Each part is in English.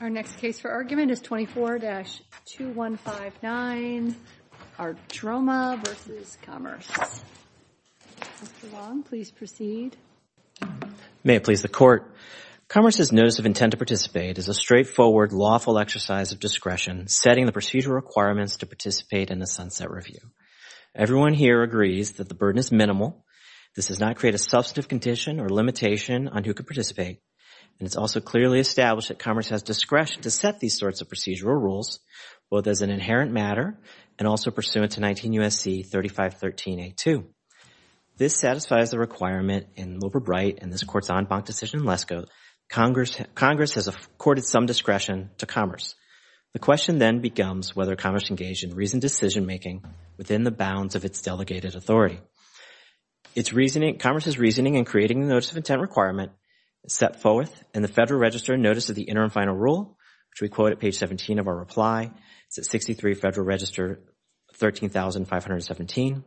Our next case for argument is 24-2159, Archroma v. Commerce. Mr. Long, please proceed. May it please the Court, Commerce's notice of intent to participate is a straightforward, lawful exercise of discretion setting the procedural requirements to participate in a sunset review. Everyone here agrees that the burden is minimal, this does not create a substantive condition or limitation on who could participate, and it's also clearly established that Commerce has discretion to set these sorts of procedural rules, both as an inherent matter and also pursuant to 19 U.S.C. 3513a.2. This satisfies the requirement in Loper-Bright and this Court's en banc decision in Lesko, Congress has accorded some discretion to Commerce. The question then becomes whether Commerce engaged in reasoned decision-making within the bounds of its delegated authority. Commerce's reasoning in creating the notice of intent requirement is set forth in the Federal Register Notice of the Interim Final Rule, which we quote at page 17 of our reply. It's at 63 Federal Register 13517.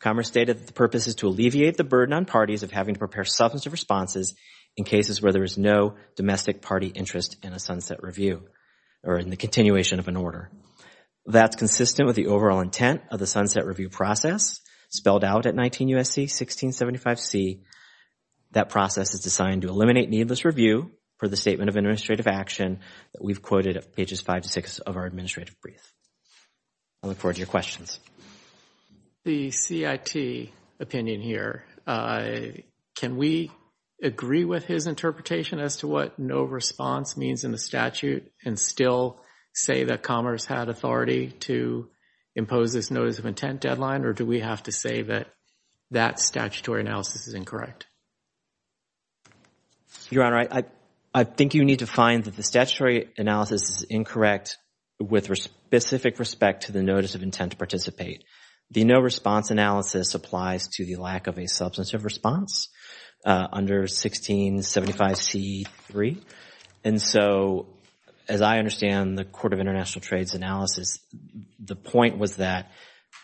Commerce stated that the purpose is to alleviate the burden on parties of having to prepare substantive responses in cases where there is no domestic party interest in a sunset review or in the continuation of an order. That's consistent with the overall intent of the sunset review process spelled out at 19 U.S.C. 1675c. That process is designed to eliminate needless review for the statement of administrative action that we've quoted at pages 5 to 6 of our administrative brief. I look forward to your questions. The CIT opinion here, can we agree with his interpretation as to what no response means in the statute and still say that Commerce had authority to impose this notice of intent or do we have to say that that statutory analysis is incorrect? Your Honor, I think you need to find that the statutory analysis is incorrect with specific respect to the notice of intent to participate. The no response analysis applies to the lack of a substantive response under 1675c.3. And so, as I understand the Court of International Trade's analysis, the point was that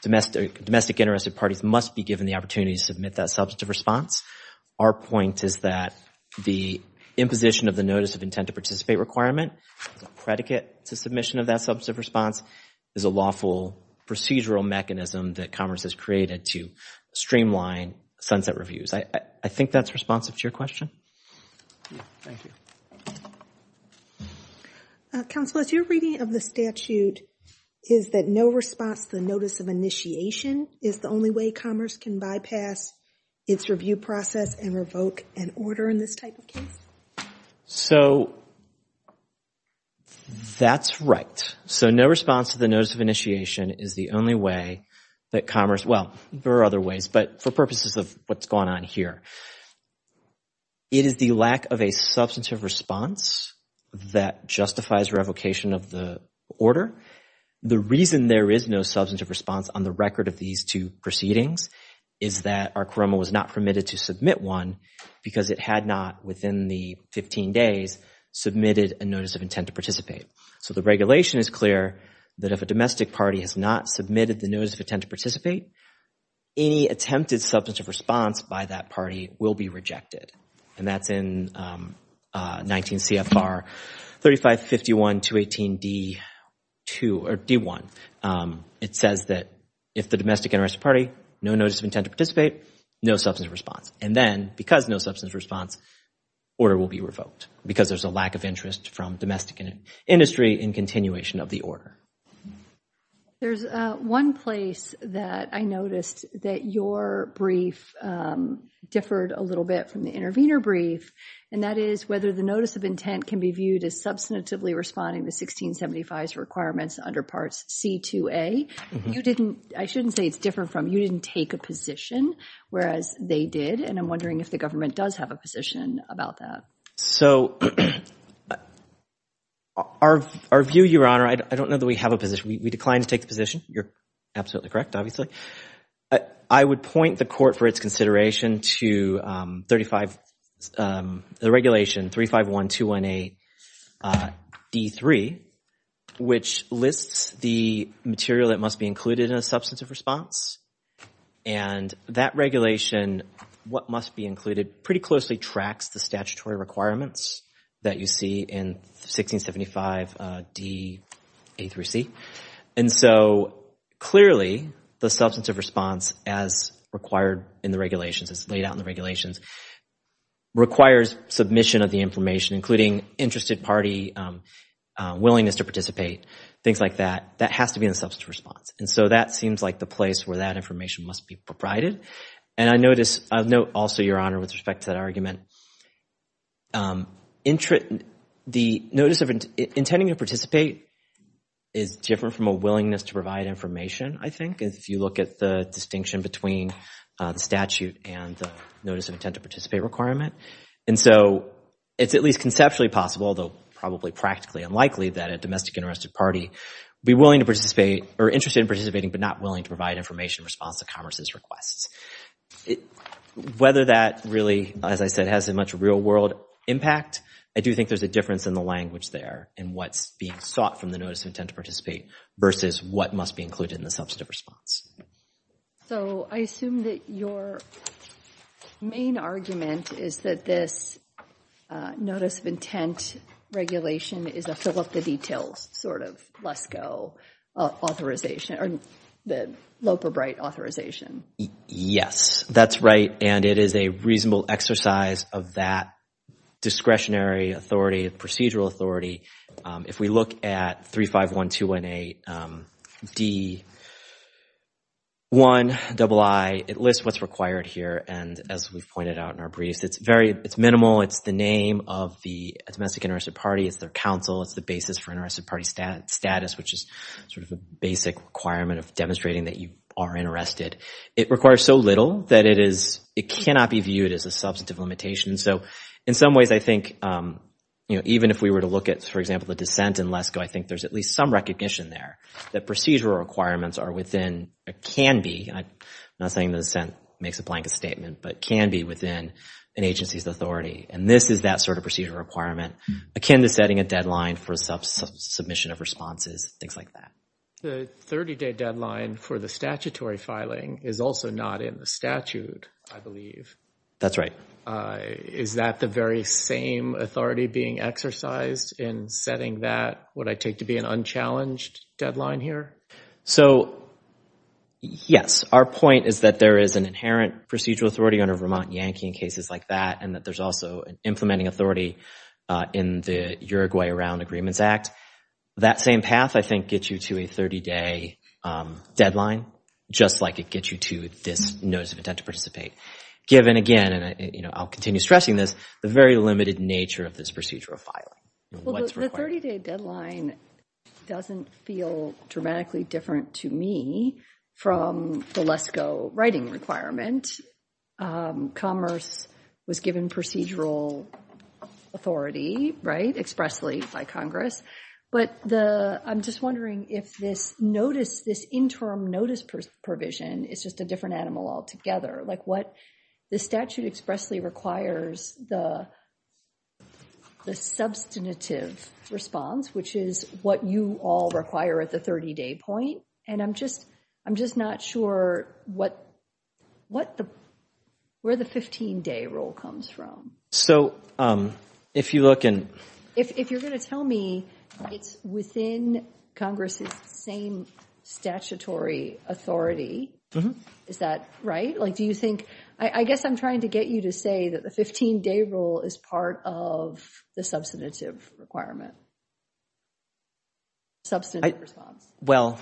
domestic interested parties must be given the opportunity to submit that substantive response. Our point is that the imposition of the notice of intent to participate requirement, predicate to submission of that substantive response, is a lawful procedural mechanism that Commerce has created to streamline sunset reviews. I think that's responsive to your question. Thank you. Counsel, is your reading of the statute is that no response to the notice of initiation is the only way Commerce can bypass its review process and revoke an order in this type of case? So, that's right. So, no response to the notice of initiation is the only way that Commerce, well, there are other ways, but for purposes of what's going on here. It is the lack of a substantive response that justifies revocation of the order. The reason there is no substantive response on the record of these two proceedings is that our CORROMA was not permitted to submit one because it had not, within the 15 days, submitted a notice of intent to participate. So, the regulation is clear that if a domestic party has not submitted the notice of intent to participate, any attempted substantive response by that party will be rejected. And that's in 19 CFR 3551-218-D1. It says that if the domestic interest party, no notice of intent to participate, no substantive response. And then, because no substantive response, order will be revoked because there's a lack of interest from domestic industry in continuation of the order. There's one place that I noticed that your brief differed a little bit from the intervener brief, and that is whether the notice of intent can be viewed as substantively responding to 1675's requirements under Parts C-2A. You didn't, I shouldn't say it's different from, you didn't take a position, whereas they did, and I'm wondering if the government does have a position about that. So, our view, Your Honor, I don't know that we have a position. We declined to take the position. You're absolutely correct, obviously. I would point the court for its consideration to 35, the regulation 351-218-D3, which lists the material that must be included in a substantive response. And that regulation, what must be included, pretty closely tracks the statutory requirements that you see in 1675-D, A through C. And so, clearly, the substantive response, as required in the regulations, as laid out in the regulations, requires submission of the information, including interested party, willingness to participate, things like that. That has to be in the substantive response. And so, that seems like the place where that information must be proprieted. And I notice, I'll note also, Your Honor, with respect to that argument, the notice of intending to participate is different from a willingness to provide information, I think, if you look at the distinction between the statute and the notice of intent to participate requirement. And so, it's at least conceptually possible, although probably practically unlikely, that a domestic interested party be willing to participate, or interested in participating, but not willing to provide information in response to commerce's requests. Whether that really, as I said, has a much real-world impact, I do think there's a difference in the language there, in what's being sought from the notice of intent to participate, versus what must be included in the substantive response. So, I assume that your main argument is that this notice of intent regulation is a fill-up-the-details sort of LESCO authorization, or the Loeb or Bright authorization. Yes, that's right. And it is a reasonable exercise of that discretionary authority, procedural authority. If we look at 351218D1II, it lists what's required here. And as we've pointed out in our briefs, it's very, it's minimal. It's the name of the domestic interested party. It's their counsel. It's the basis for interested party status, which is sort of a basic requirement of demonstrating that you are interested. It requires so little that it is, it cannot be viewed as a substantive limitation. So, in some ways, I think, you know, even if we were to look at, for example, the dissent in LESCO, I think there's at least some recognition there that procedural requirements are within, can be, I'm not saying the dissent makes a blanket statement, but can be within an agency's authority. And this is that sort of procedural requirement akin to setting a deadline for submission of responses, things like that. The 30-day deadline for the statutory filing is also not in the statute, I believe. That's right. Is that the very same authority being exercised in setting that, what I take to be an unchallenged deadline here? So, yes, our point is that there is an inherent procedural authority under Vermont Yankee in cases like that, and that there's also an implementing authority in the Uruguay Around Agreements Act. That same path, I think, gets you to a 30-day deadline, just like it gets you to this notice of intent to participate. Given, again, and, you know, I'll continue stressing this, the very limited nature of this procedural filing. Well, the 30-day deadline doesn't feel dramatically different to me from the LESCO writing requirement. Commerce was given procedural authority, right, expressly by Congress. But I'm just wondering if this notice, this interim notice provision is just a different animal altogether. Like what the statute expressly requires the substantive response, which is what you all require at the 30-day point. And I'm just, I'm just not sure what, what the, where the 15-day rule comes from. So, if you look in. If you're going to tell me it's within Congress's same statutory authority, is that right? Like, do you think, I guess I'm trying to get you to say that the 15-day rule is part of the substantive requirement, substantive response. Well,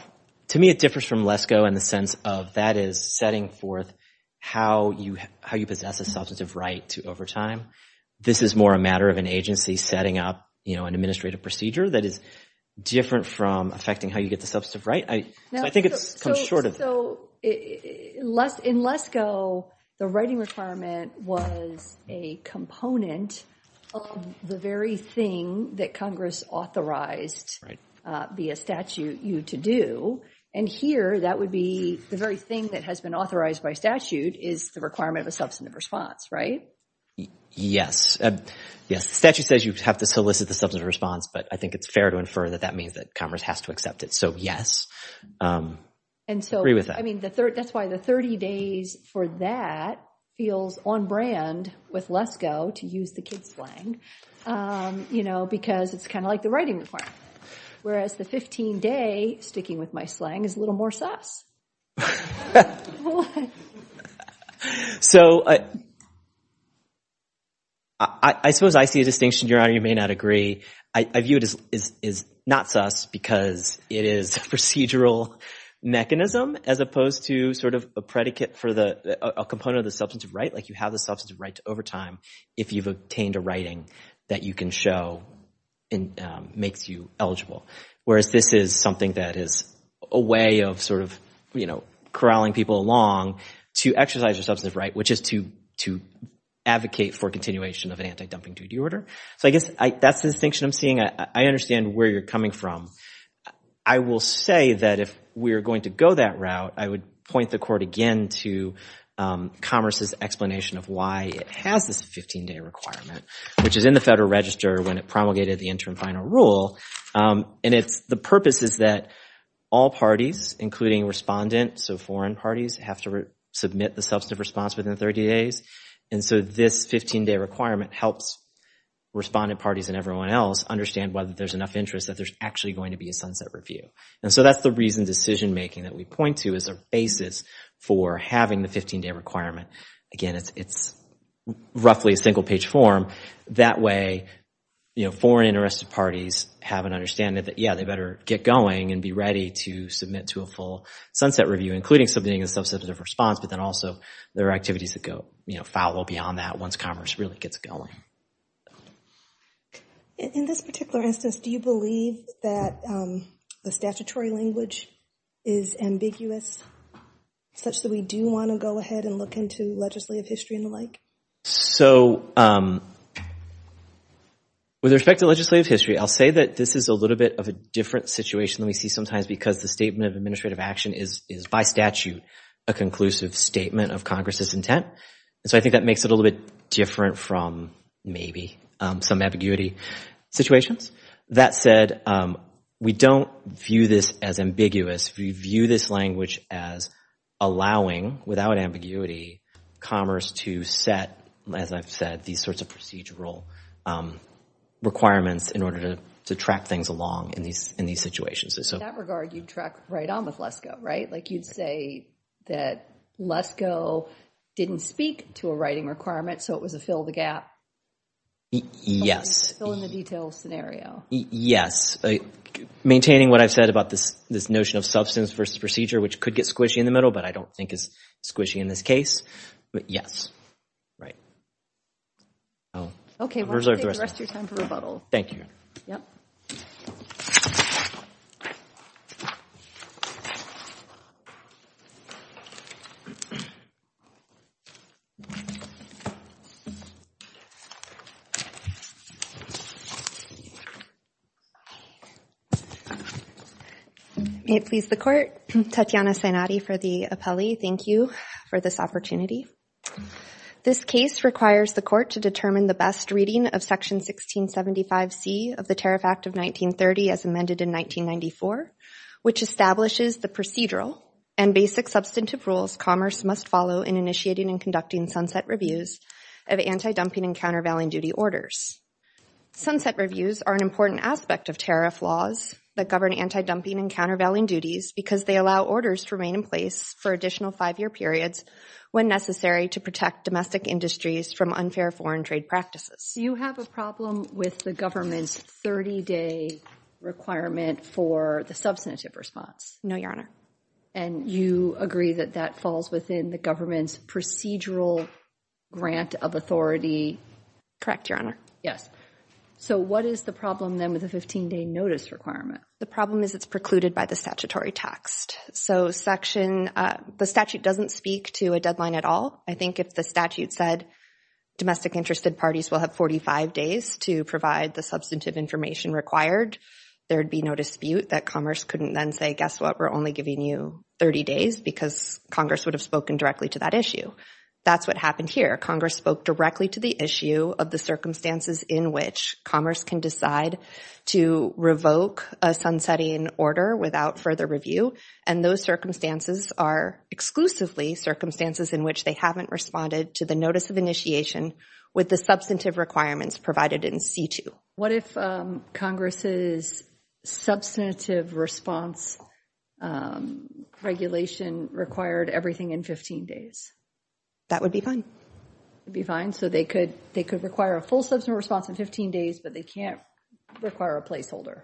to me, it differs from LESCO in the sense of that is setting forth how you, how you possess a substantive right to overtime. This is more a matter of an agency setting up, you know, an administrative procedure that is different from affecting how you get the substantive right. I think it comes short of that. So, in LESCO, the writing requirement was a component of the very thing that Congress authorized via statute you to do. And here, that would be the very thing that has been authorized by statute is the requirement of a substantive response, right? Yes, yes. The statute says you have to solicit the substantive response, but I think it's fair to infer that that means that Congress has to accept it. So, yes, I agree with that. I mean, that's why the 30 days for that feels on brand with LESCO, to use the kids slang, you know, because it's kind of like the writing requirement. Whereas the 15 day, sticking with my slang, is a little more sus. So, I suppose I see a distinction, Your Honor, you may not agree. I view it as not sus because it is a procedural mechanism as opposed to sort of a predicate for a component of the substantive right, like you have the substantive right to overtime if you've obtained a writing that you can show and makes you eligible. Whereas this is something that is a way of sort of, you know, corralling people along to exercise your substantive right, which is to advocate for continuation of an anti-dumping duty order. So, I guess that's the distinction I'm seeing. I understand where you're coming from. I will say that if we're going to go that route, I would point the court again to Commerce's explanation of why it has this 15 day requirement, which is in the Federal Register when it promulgated the interim final rule. And the purpose is that all parties, including respondents, so foreign parties, have to submit the substantive response within 30 days. And so this 15 day requirement helps respondent parties and everyone else understand whether there's enough interest that there's actually going to be a sunset review. And so that's the reason decision making that we point to is a basis for having the 15 day requirement. Again, it's roughly a single page form. That way, you know, foreign interested parties have an understanding that, yeah, they better get going and be ready to submit to a full sunset review, including submitting a substantive response. But then also there are activities that go, you know, foul well beyond that once Commerce really gets going. In this particular instance, do you believe that the statutory language is ambiguous, such that we do want to go ahead and look into legislative history and the like? So with respect to legislative history, I'll say that this is a little bit of a different situation than we see sometimes because the statement of administrative action is by statute a conclusive statement of Congress's intent. And so I think that makes it a little bit different from maybe some ambiguity situations. That said, we don't view this as ambiguous. We view this language as allowing, without ambiguity, Commerce to set, as I've said, these sorts of procedural requirements in order to track things along in these situations. In that regard, you'd track right on with LESCO, right? Like you'd say that LESCO didn't speak to a writing requirement, so it was a fill the gap. Yes. Fill in the details scenario. Yes. Maintaining what I've said about this notion of substance versus procedure, which could get squishy in the middle, but I don't think is squishy in this case. But yes. Right. OK. We'll take the rest of your time for rebuttal. Thank you. May it please the court, Tatiana Sinati for the appellee. Thank you for this opportunity. This case requires the court to determine the best reading of section 1675C of the Tariff Act of 1930 as amended in 1994, which establishes the procedural and basic substantive rules Commerce must follow in initiating and conducting sunset reviews of anti-dumping and countervailing duty orders. Sunset reviews are an important aspect of tariff laws that govern anti-dumping and countervailing duties because they allow orders to remain in place for additional five-year periods when necessary to protect domestic industries from unfair foreign trade practices. You have a problem with the government's 30-day requirement for the substantive response? No, Your Honor. And you agree that that falls within the government's procedural grant of authority? Correct, Your Honor. Yes. So what is the problem then with the 15-day notice requirement? The problem is it's precluded by the statutory text. So the statute doesn't speak to a deadline at all. I think if the statute said domestic interested parties will have 45 days to provide the substantive information required, there would be no dispute that Commerce couldn't then say, guess what? We're only giving you 30 days because Congress would have spoken directly to that issue. That's what happened here. Congress spoke directly to the issue of the circumstances in which Commerce can decide to revoke a sunsetting order without further review. And those circumstances are exclusively circumstances in which they haven't responded to the notice of initiation with the substantive requirements provided in C-2. What if Congress's substantive response regulation required everything in 15 days? That would be fine. It would be fine? So they could require a full substantive response in 15 days, but they can't require a placeholder?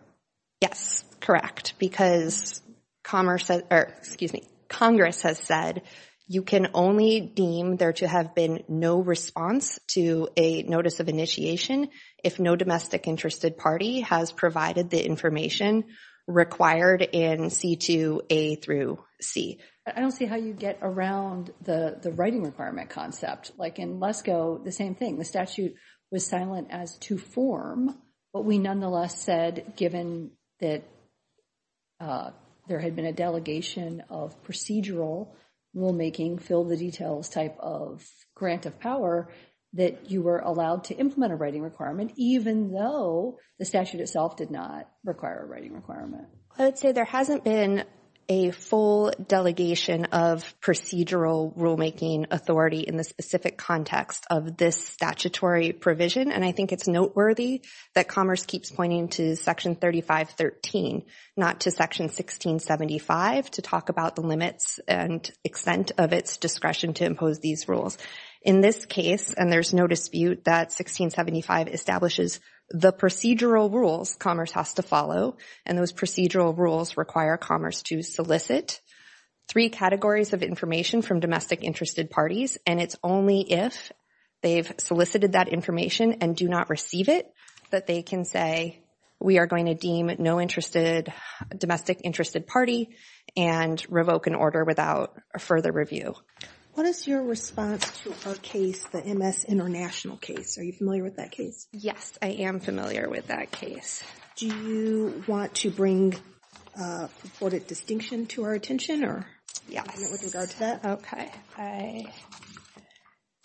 Yes, correct. Because Congress has said you can only deem there to have been no response to a notice of initiation if no domestic interested party has provided the information required in C-2A through C. I don't see how you get around the writing requirement concept. Like in LESCO, the same thing. The statute was silent as to form, but we nonetheless said given that there had been a delegation of procedural rulemaking, fill the details type of grant of power, that you were allowed to implement a writing requirement even though the statute itself did not require a writing requirement. I would say there hasn't been a full delegation of procedural rulemaking authority in the statutory provision, and I think it's noteworthy that Commerce keeps pointing to Section 3513, not to Section 1675 to talk about the limits and extent of its discretion to impose these In this case, and there's no dispute that 1675 establishes the procedural rules Commerce has to follow, and those procedural rules require Commerce to solicit three categories of information from domestic interested parties, and it's only if they've solicited that information and do not receive it that they can say we are going to deem no domestic interested party and revoke an order without a further review. What is your response to our case, the MS International case? Are you familiar with that case? Yes, I am familiar with that case. Do you want to bring purported distinction to our attention? Yes, okay, I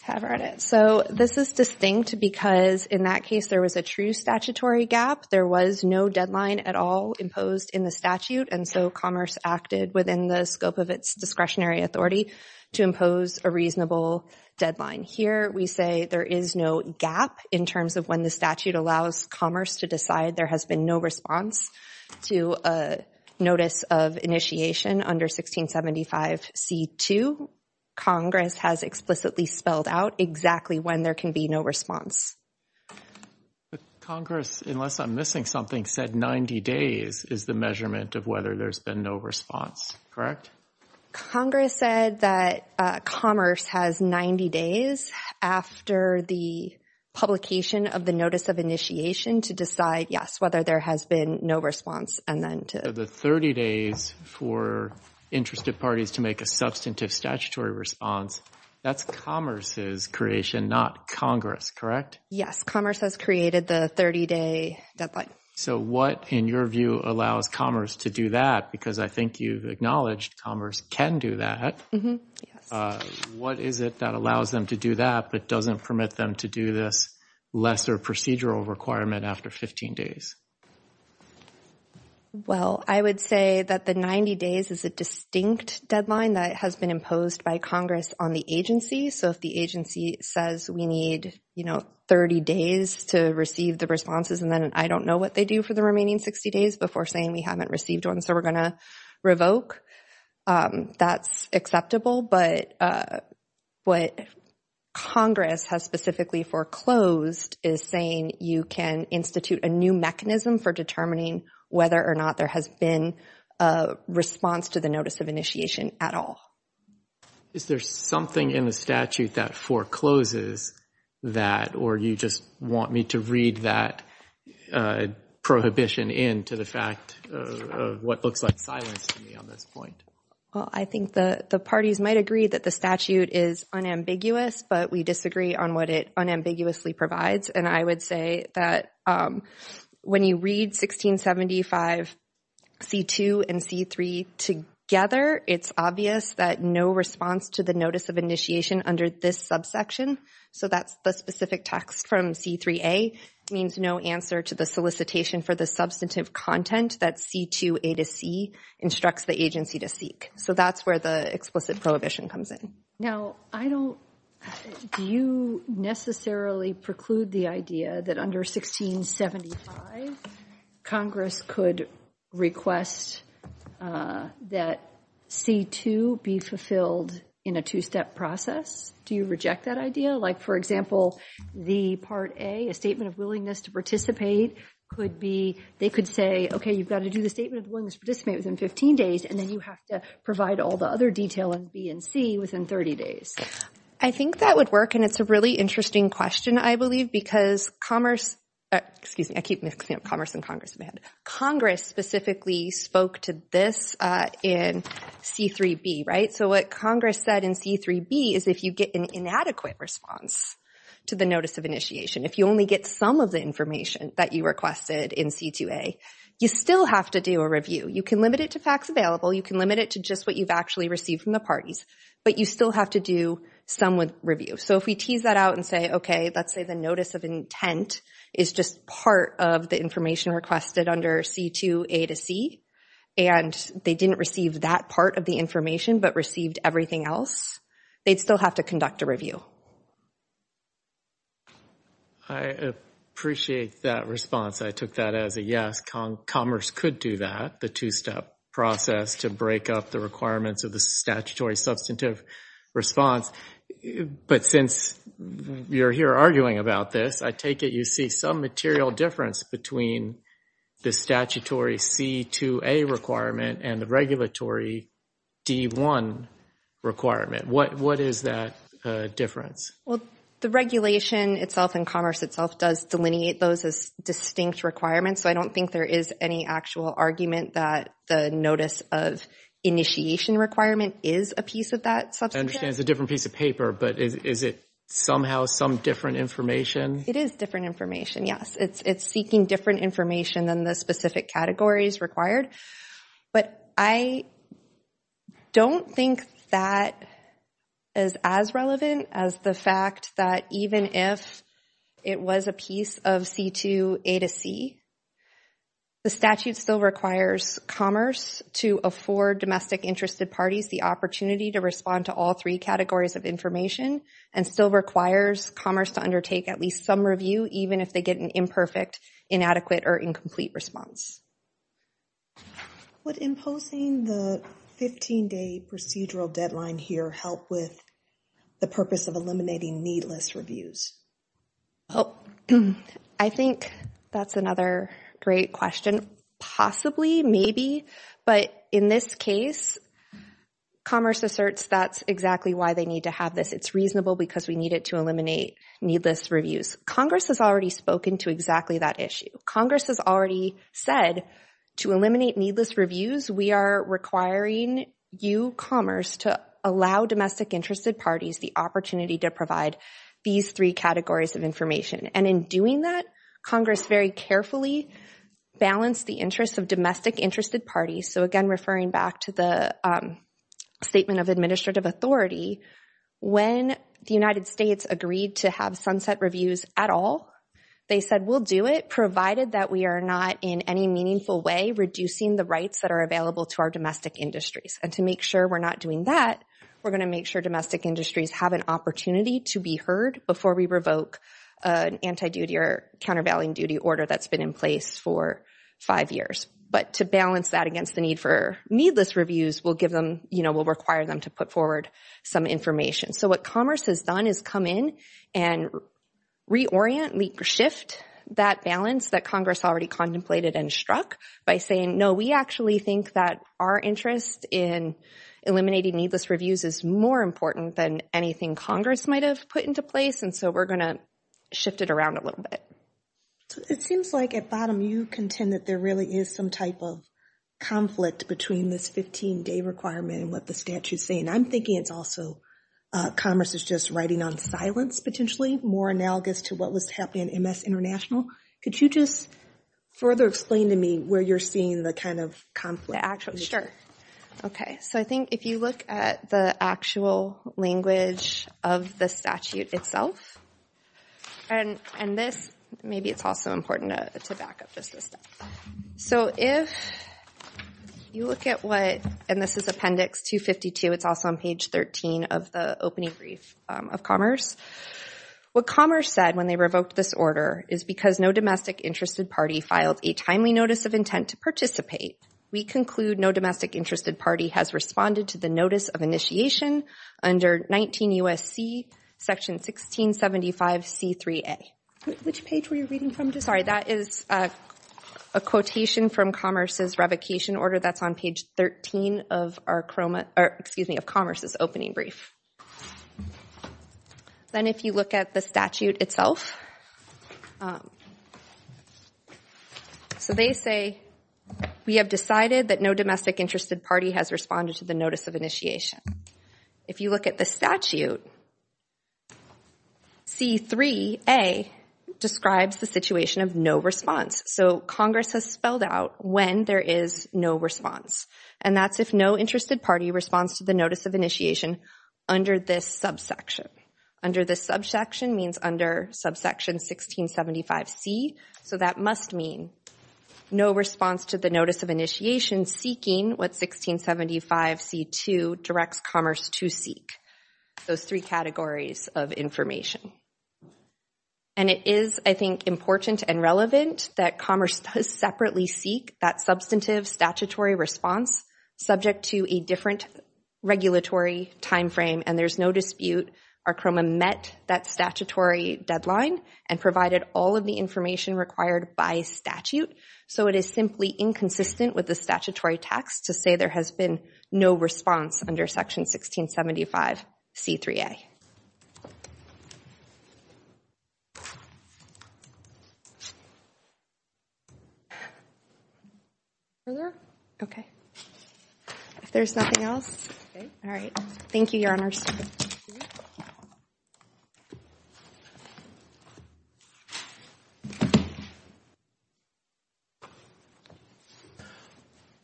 have read it. So this is distinct because in that case there was a true statutory gap. There was no deadline at all imposed in the statute, and so Commerce acted within the scope of its discretionary authority to impose a reasonable deadline. Here we say there is no gap in terms of when the statute allows Commerce to decide. To a notice of initiation under 1675 C2, Congress has explicitly spelled out exactly when there can be no response. Congress, unless I'm missing something, said 90 days is the measurement of whether there's been no response, correct? Congress said that Commerce has 90 days after the publication of the notice of initiation to decide, yes, whether there has been no response. And then to the 30 days for interested parties to make a substantive statutory response, that's Commerce's creation, not Congress, correct? Yes, Commerce has created the 30-day deadline. So what, in your view, allows Commerce to do that? Because I think you've acknowledged Commerce can do that. What is it that allows them to do that but doesn't permit them to do this lesser procedural requirement after 15 days? Well, I would say that the 90 days is a distinct deadline that has been imposed by Congress on the agency. So if the agency says we need, you know, 30 days to receive the responses and then I don't know what they do for the remaining 60 days before saying we haven't received one, so we're going to revoke, that's acceptable. But what Congress has specifically foreclosed is saying you can institute a new mechanism for determining whether or not there has been a response to the notice of initiation at all. Is there something in the statute that forecloses that or you just want me to read that prohibition into the fact of what looks like silence to me on this point? Well, I think the parties might agree that the statute is unambiguous, but we disagree on what it unambiguously provides. And I would say that when you read 1675 C-2 and C-3 together, it's obvious that no response to the notice of initiation under this subsection, so that's the specific text from C-3A, means no answer to the solicitation for the substantive content that C-2A to C instructs the agency to seek. So that's where the explicit prohibition comes in. Now, do you necessarily preclude the idea that under 1675 Congress could request that C-2 be fulfilled in a two-step process? Do you reject that idea? Like, for example, the Part A, a statement of willingness to participate, they could say, OK, you've got to do the statement of willingness to participate within 15 days, and then you have to provide all the other detail in B and C within 30 days. I think that would work, and it's a really interesting question, I believe, because Commerce—excuse me, I keep mixing up Commerce and Congress in my head. Congress specifically spoke to this in C-3B, right? So what Congress said in C-3B is if you get an inadequate response to the notice of initiation, if you only get some of the information that you requested in C-2A, you still have to do a review. You can limit it to facts available, you can limit it to just what you've actually received from the parties, but you still have to do some review. So if we tease that out and say, OK, let's say the notice of intent is just part of the information requested under C-2A to C, and they didn't receive that part of the information but received everything else, they'd still have to conduct a review. I appreciate that response. I took that as a yes, Commerce could do that. The two-step process to break up the requirements of the statutory substantive response. But since you're here arguing about this, I take it you see some material difference between the statutory C-2A requirement and the regulatory D-1 requirement. What is that difference? Well, the regulation itself and Commerce itself does delineate those as distinct requirements, so I don't think there is any actual argument that the notice of initiation requirement is a piece of that substantive. I understand it's a different piece of paper, but is it somehow some different information? It is different information, yes. It's seeking different information than the specific categories required. But I don't think that is as relevant as the fact that even if it was a piece of C-2A to C, the statute still requires Commerce to afford domestic interested parties the opportunity to respond to all three categories of information and still requires Commerce to undertake at least some review even if they get an imperfect, inadequate, or incomplete response. Would imposing the 15-day procedural deadline here help with the purpose of eliminating needless reviews? Well, I think that's another great question. Possibly, maybe, but in this case, Commerce asserts that's exactly why they need to have this. It's reasonable because we need it to eliminate needless reviews. Congress has already spoken to exactly that issue. Congress has already said to eliminate needless reviews, we are requiring you, Commerce, to allow domestic interested parties the opportunity to provide these three categories of information. And in doing that, Congress very carefully balanced the interests of domestic interested parties. So again, referring back to the statement of administrative authority, when the United States agreed to have sunset reviews at all, they said we'll do it provided that we are not in any meaningful way reducing the rights that are available to our domestic industries. And to make sure we're not doing that, we're going to make sure domestic industries have an opportunity to be heard before we revoke an anti-duty or countervailing duty order that's been in place for five years. But to balance that against the need for needless reviews, we'll give them, you know, we'll require them to put forward some information. So what Commerce has done is come in and reorient, shift that balance that Congress already contemplated and struck by saying, no, we actually think that our interest in eliminating needless reviews is more important than anything Congress might have put into place. And so we're going to shift it around a little bit. So it seems like at bottom, you contend that there really is some type of conflict between this 15-day requirement and what the statute's saying. I'm thinking it's also, Commerce is just riding on silence, potentially, more analogous to what was happening in MS International. Could you just further explain to me where you're seeing the kind of conflict? The actual, sure. Okay, so I think if you look at the actual language of the statute itself, and this, maybe it's also important to back up just a step. So if you look at what, and this is appendix 252, it's also on page 13 of the opening brief of Commerce. What Commerce said when they revoked this order is, because no domestic interested party filed a timely notice of intent to participate, we conclude no domestic interested party has responded to the notice of initiation under 19 U.S.C. section 1675 C3A. Which page were you reading from? Sorry, that is a quotation from Commerce's revocation order. That's on page 13 of Commerce's opening brief. Then if you look at the statute itself, so they say, we have decided that no domestic interested party has responded to the notice of initiation. If you look at the statute, C3A describes the situation of no response. So Congress has spelled out when there is no response, and that's if no interested party responds to the notice of initiation under this subsection. Under the subsection means under subsection 1675 C, so that must mean no response to the notice of initiation seeking what 1675 C2 directs Commerce to seek, those three categories of information. And it is, I think, important and relevant that Commerce does separately seek that substantive statutory response subject to a different regulatory time frame, and there's no dispute our CROMA met that statutory deadline and provided all of the information required by statute. So it is simply inconsistent with the statutory text to say there has been no response under section 1675 C3A. Further? Okay. If there's nothing else, all right. Thank you, Your Honors.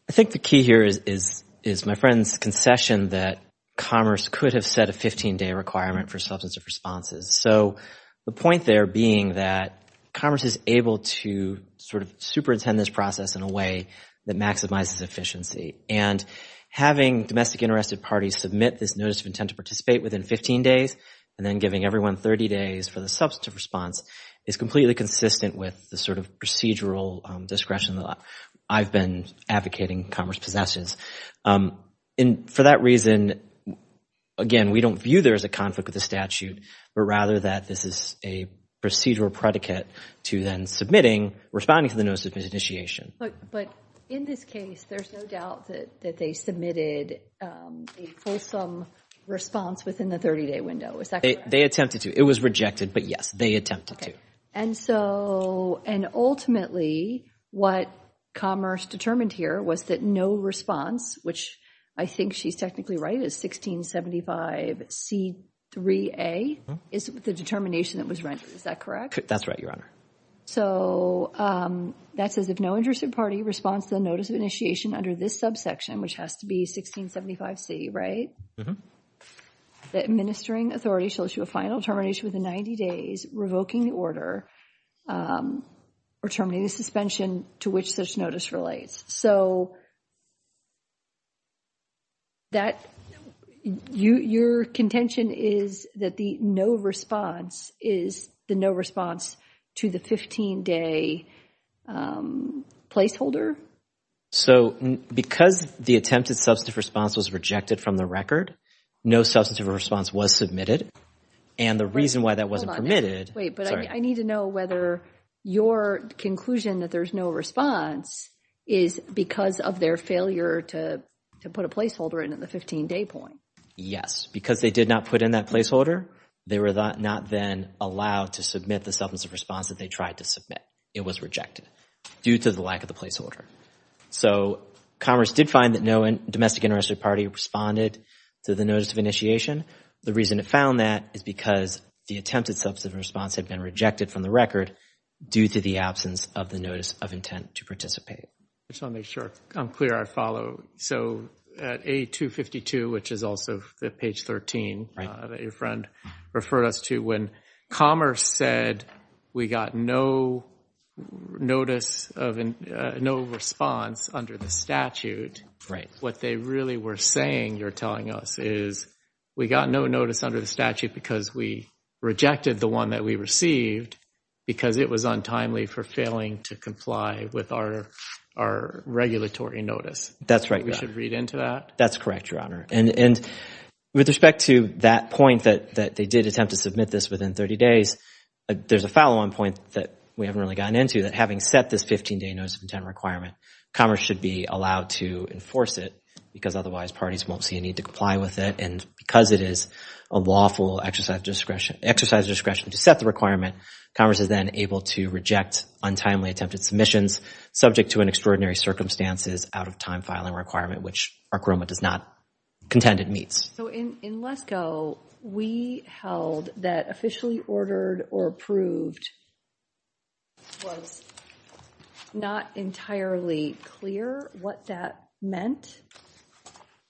I think the key here is my friend's concession that Commerce could have set a 15-day requirement for substantive responses. So the point there being that Commerce is able to sort of superintend this process in a way that maximizes efficiency, and having domestic interested parties submit this notice of intent to participate within 15 days and then giving everyone 30 days for the substantive response is completely consistent with the sort of procedural discretion that I've been advocating Commerce possesses. And for that reason, again, we don't view there as a conflict with the statute, but rather that this is a procedural predicate to then submitting, responding to the notice of initiation. But in this case, there's no doubt that they submitted a fulsome response within the 30-day window, is that correct? They attempted to. It was rejected, but yes, they attempted to. And so, and ultimately, what Commerce determined here was that no response, which I think she's technically right, is 1675C3A is the determination that was rendered. Is that correct? That's right, Your Honor. So that says if no interested party responds to the notice of initiation under this subsection, which has to be 1675C, right? The administering authority shall issue a final determination within 90 days revoking the order or terminating the suspension to which such notice relates. So your contention is that the no response is the no response to the 15-day placeholder? So because the attempted substantive response was rejected from the record, no substantive response was submitted, and the reason why that wasn't permitted I need to know whether your conclusion that there's no response is because of their failure to put a placeholder in at the 15-day point. Yes, because they did not put in that placeholder, they were not then allowed to submit the substantive response that they tried to submit. It was rejected due to the lack of the placeholder. So Commerce did find that no domestic interested party responded to the notice of initiation. The reason it found that is because the attempted substantive response had been rejected from the record due to the absence of the notice of intent to participate. Just want to make sure I'm clear I follow. So at A252, which is also page 13 that your friend referred us to, when Commerce said we got no notice of no response under the statute, what they really were saying, you're telling us, is we got no notice under the statute because we rejected the one that we received because it was untimely for failing to comply with our regulatory notice. That's right. We should read into that? That's correct, Your Honor, and with respect to that point that they did attempt to submit this within 30 days, there's a follow-on point that we haven't really gotten into that having set this 15-day notice of intent requirement, Commerce should be allowed to enforce it because otherwise parties won't see a need to comply with it. And because it is a lawful exercise discretion to set the requirement, Commerce is then able to reject untimely attempted submissions subject to an extraordinary circumstances out-of-time filing requirement, which our criminal does not contend it meets. So in LESCO, we held that officially ordered or approved It was not entirely clear what that meant.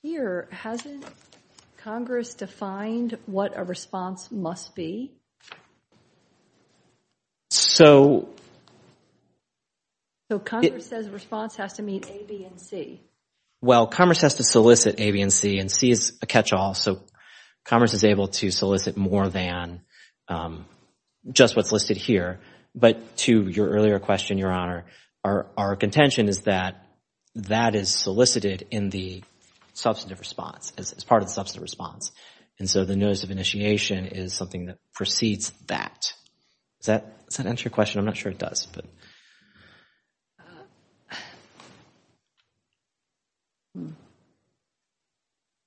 Here, hasn't Congress defined what a response must be? So... So Congress says response has to meet A, B, and C? Well, Commerce has to solicit A, B, and C, and C is a catch-all, so Commerce is able to solicit more than just what's listed here. But to your earlier question, Your Honor, our contention is that that is solicited in the substantive response, as part of the substantive response. And so the notice of initiation is something that precedes that. Does that answer your question? I'm not sure it does.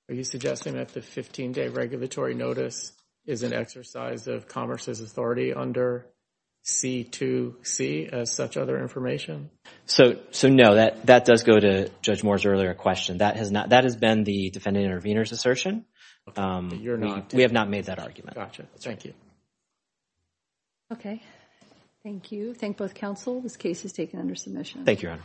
Are you suggesting that the 15-day regulatory notice is an exercise of Commerce's authority under C, 2, C, as such other information? So no, that does go to Judge Moore's earlier question. That has been the defendant intervener's assertion. We have not made that argument. Gotcha. Thank you. Okay. Thank you. Thank both counsel. This case is taken under submission. Thank you, Your Honor.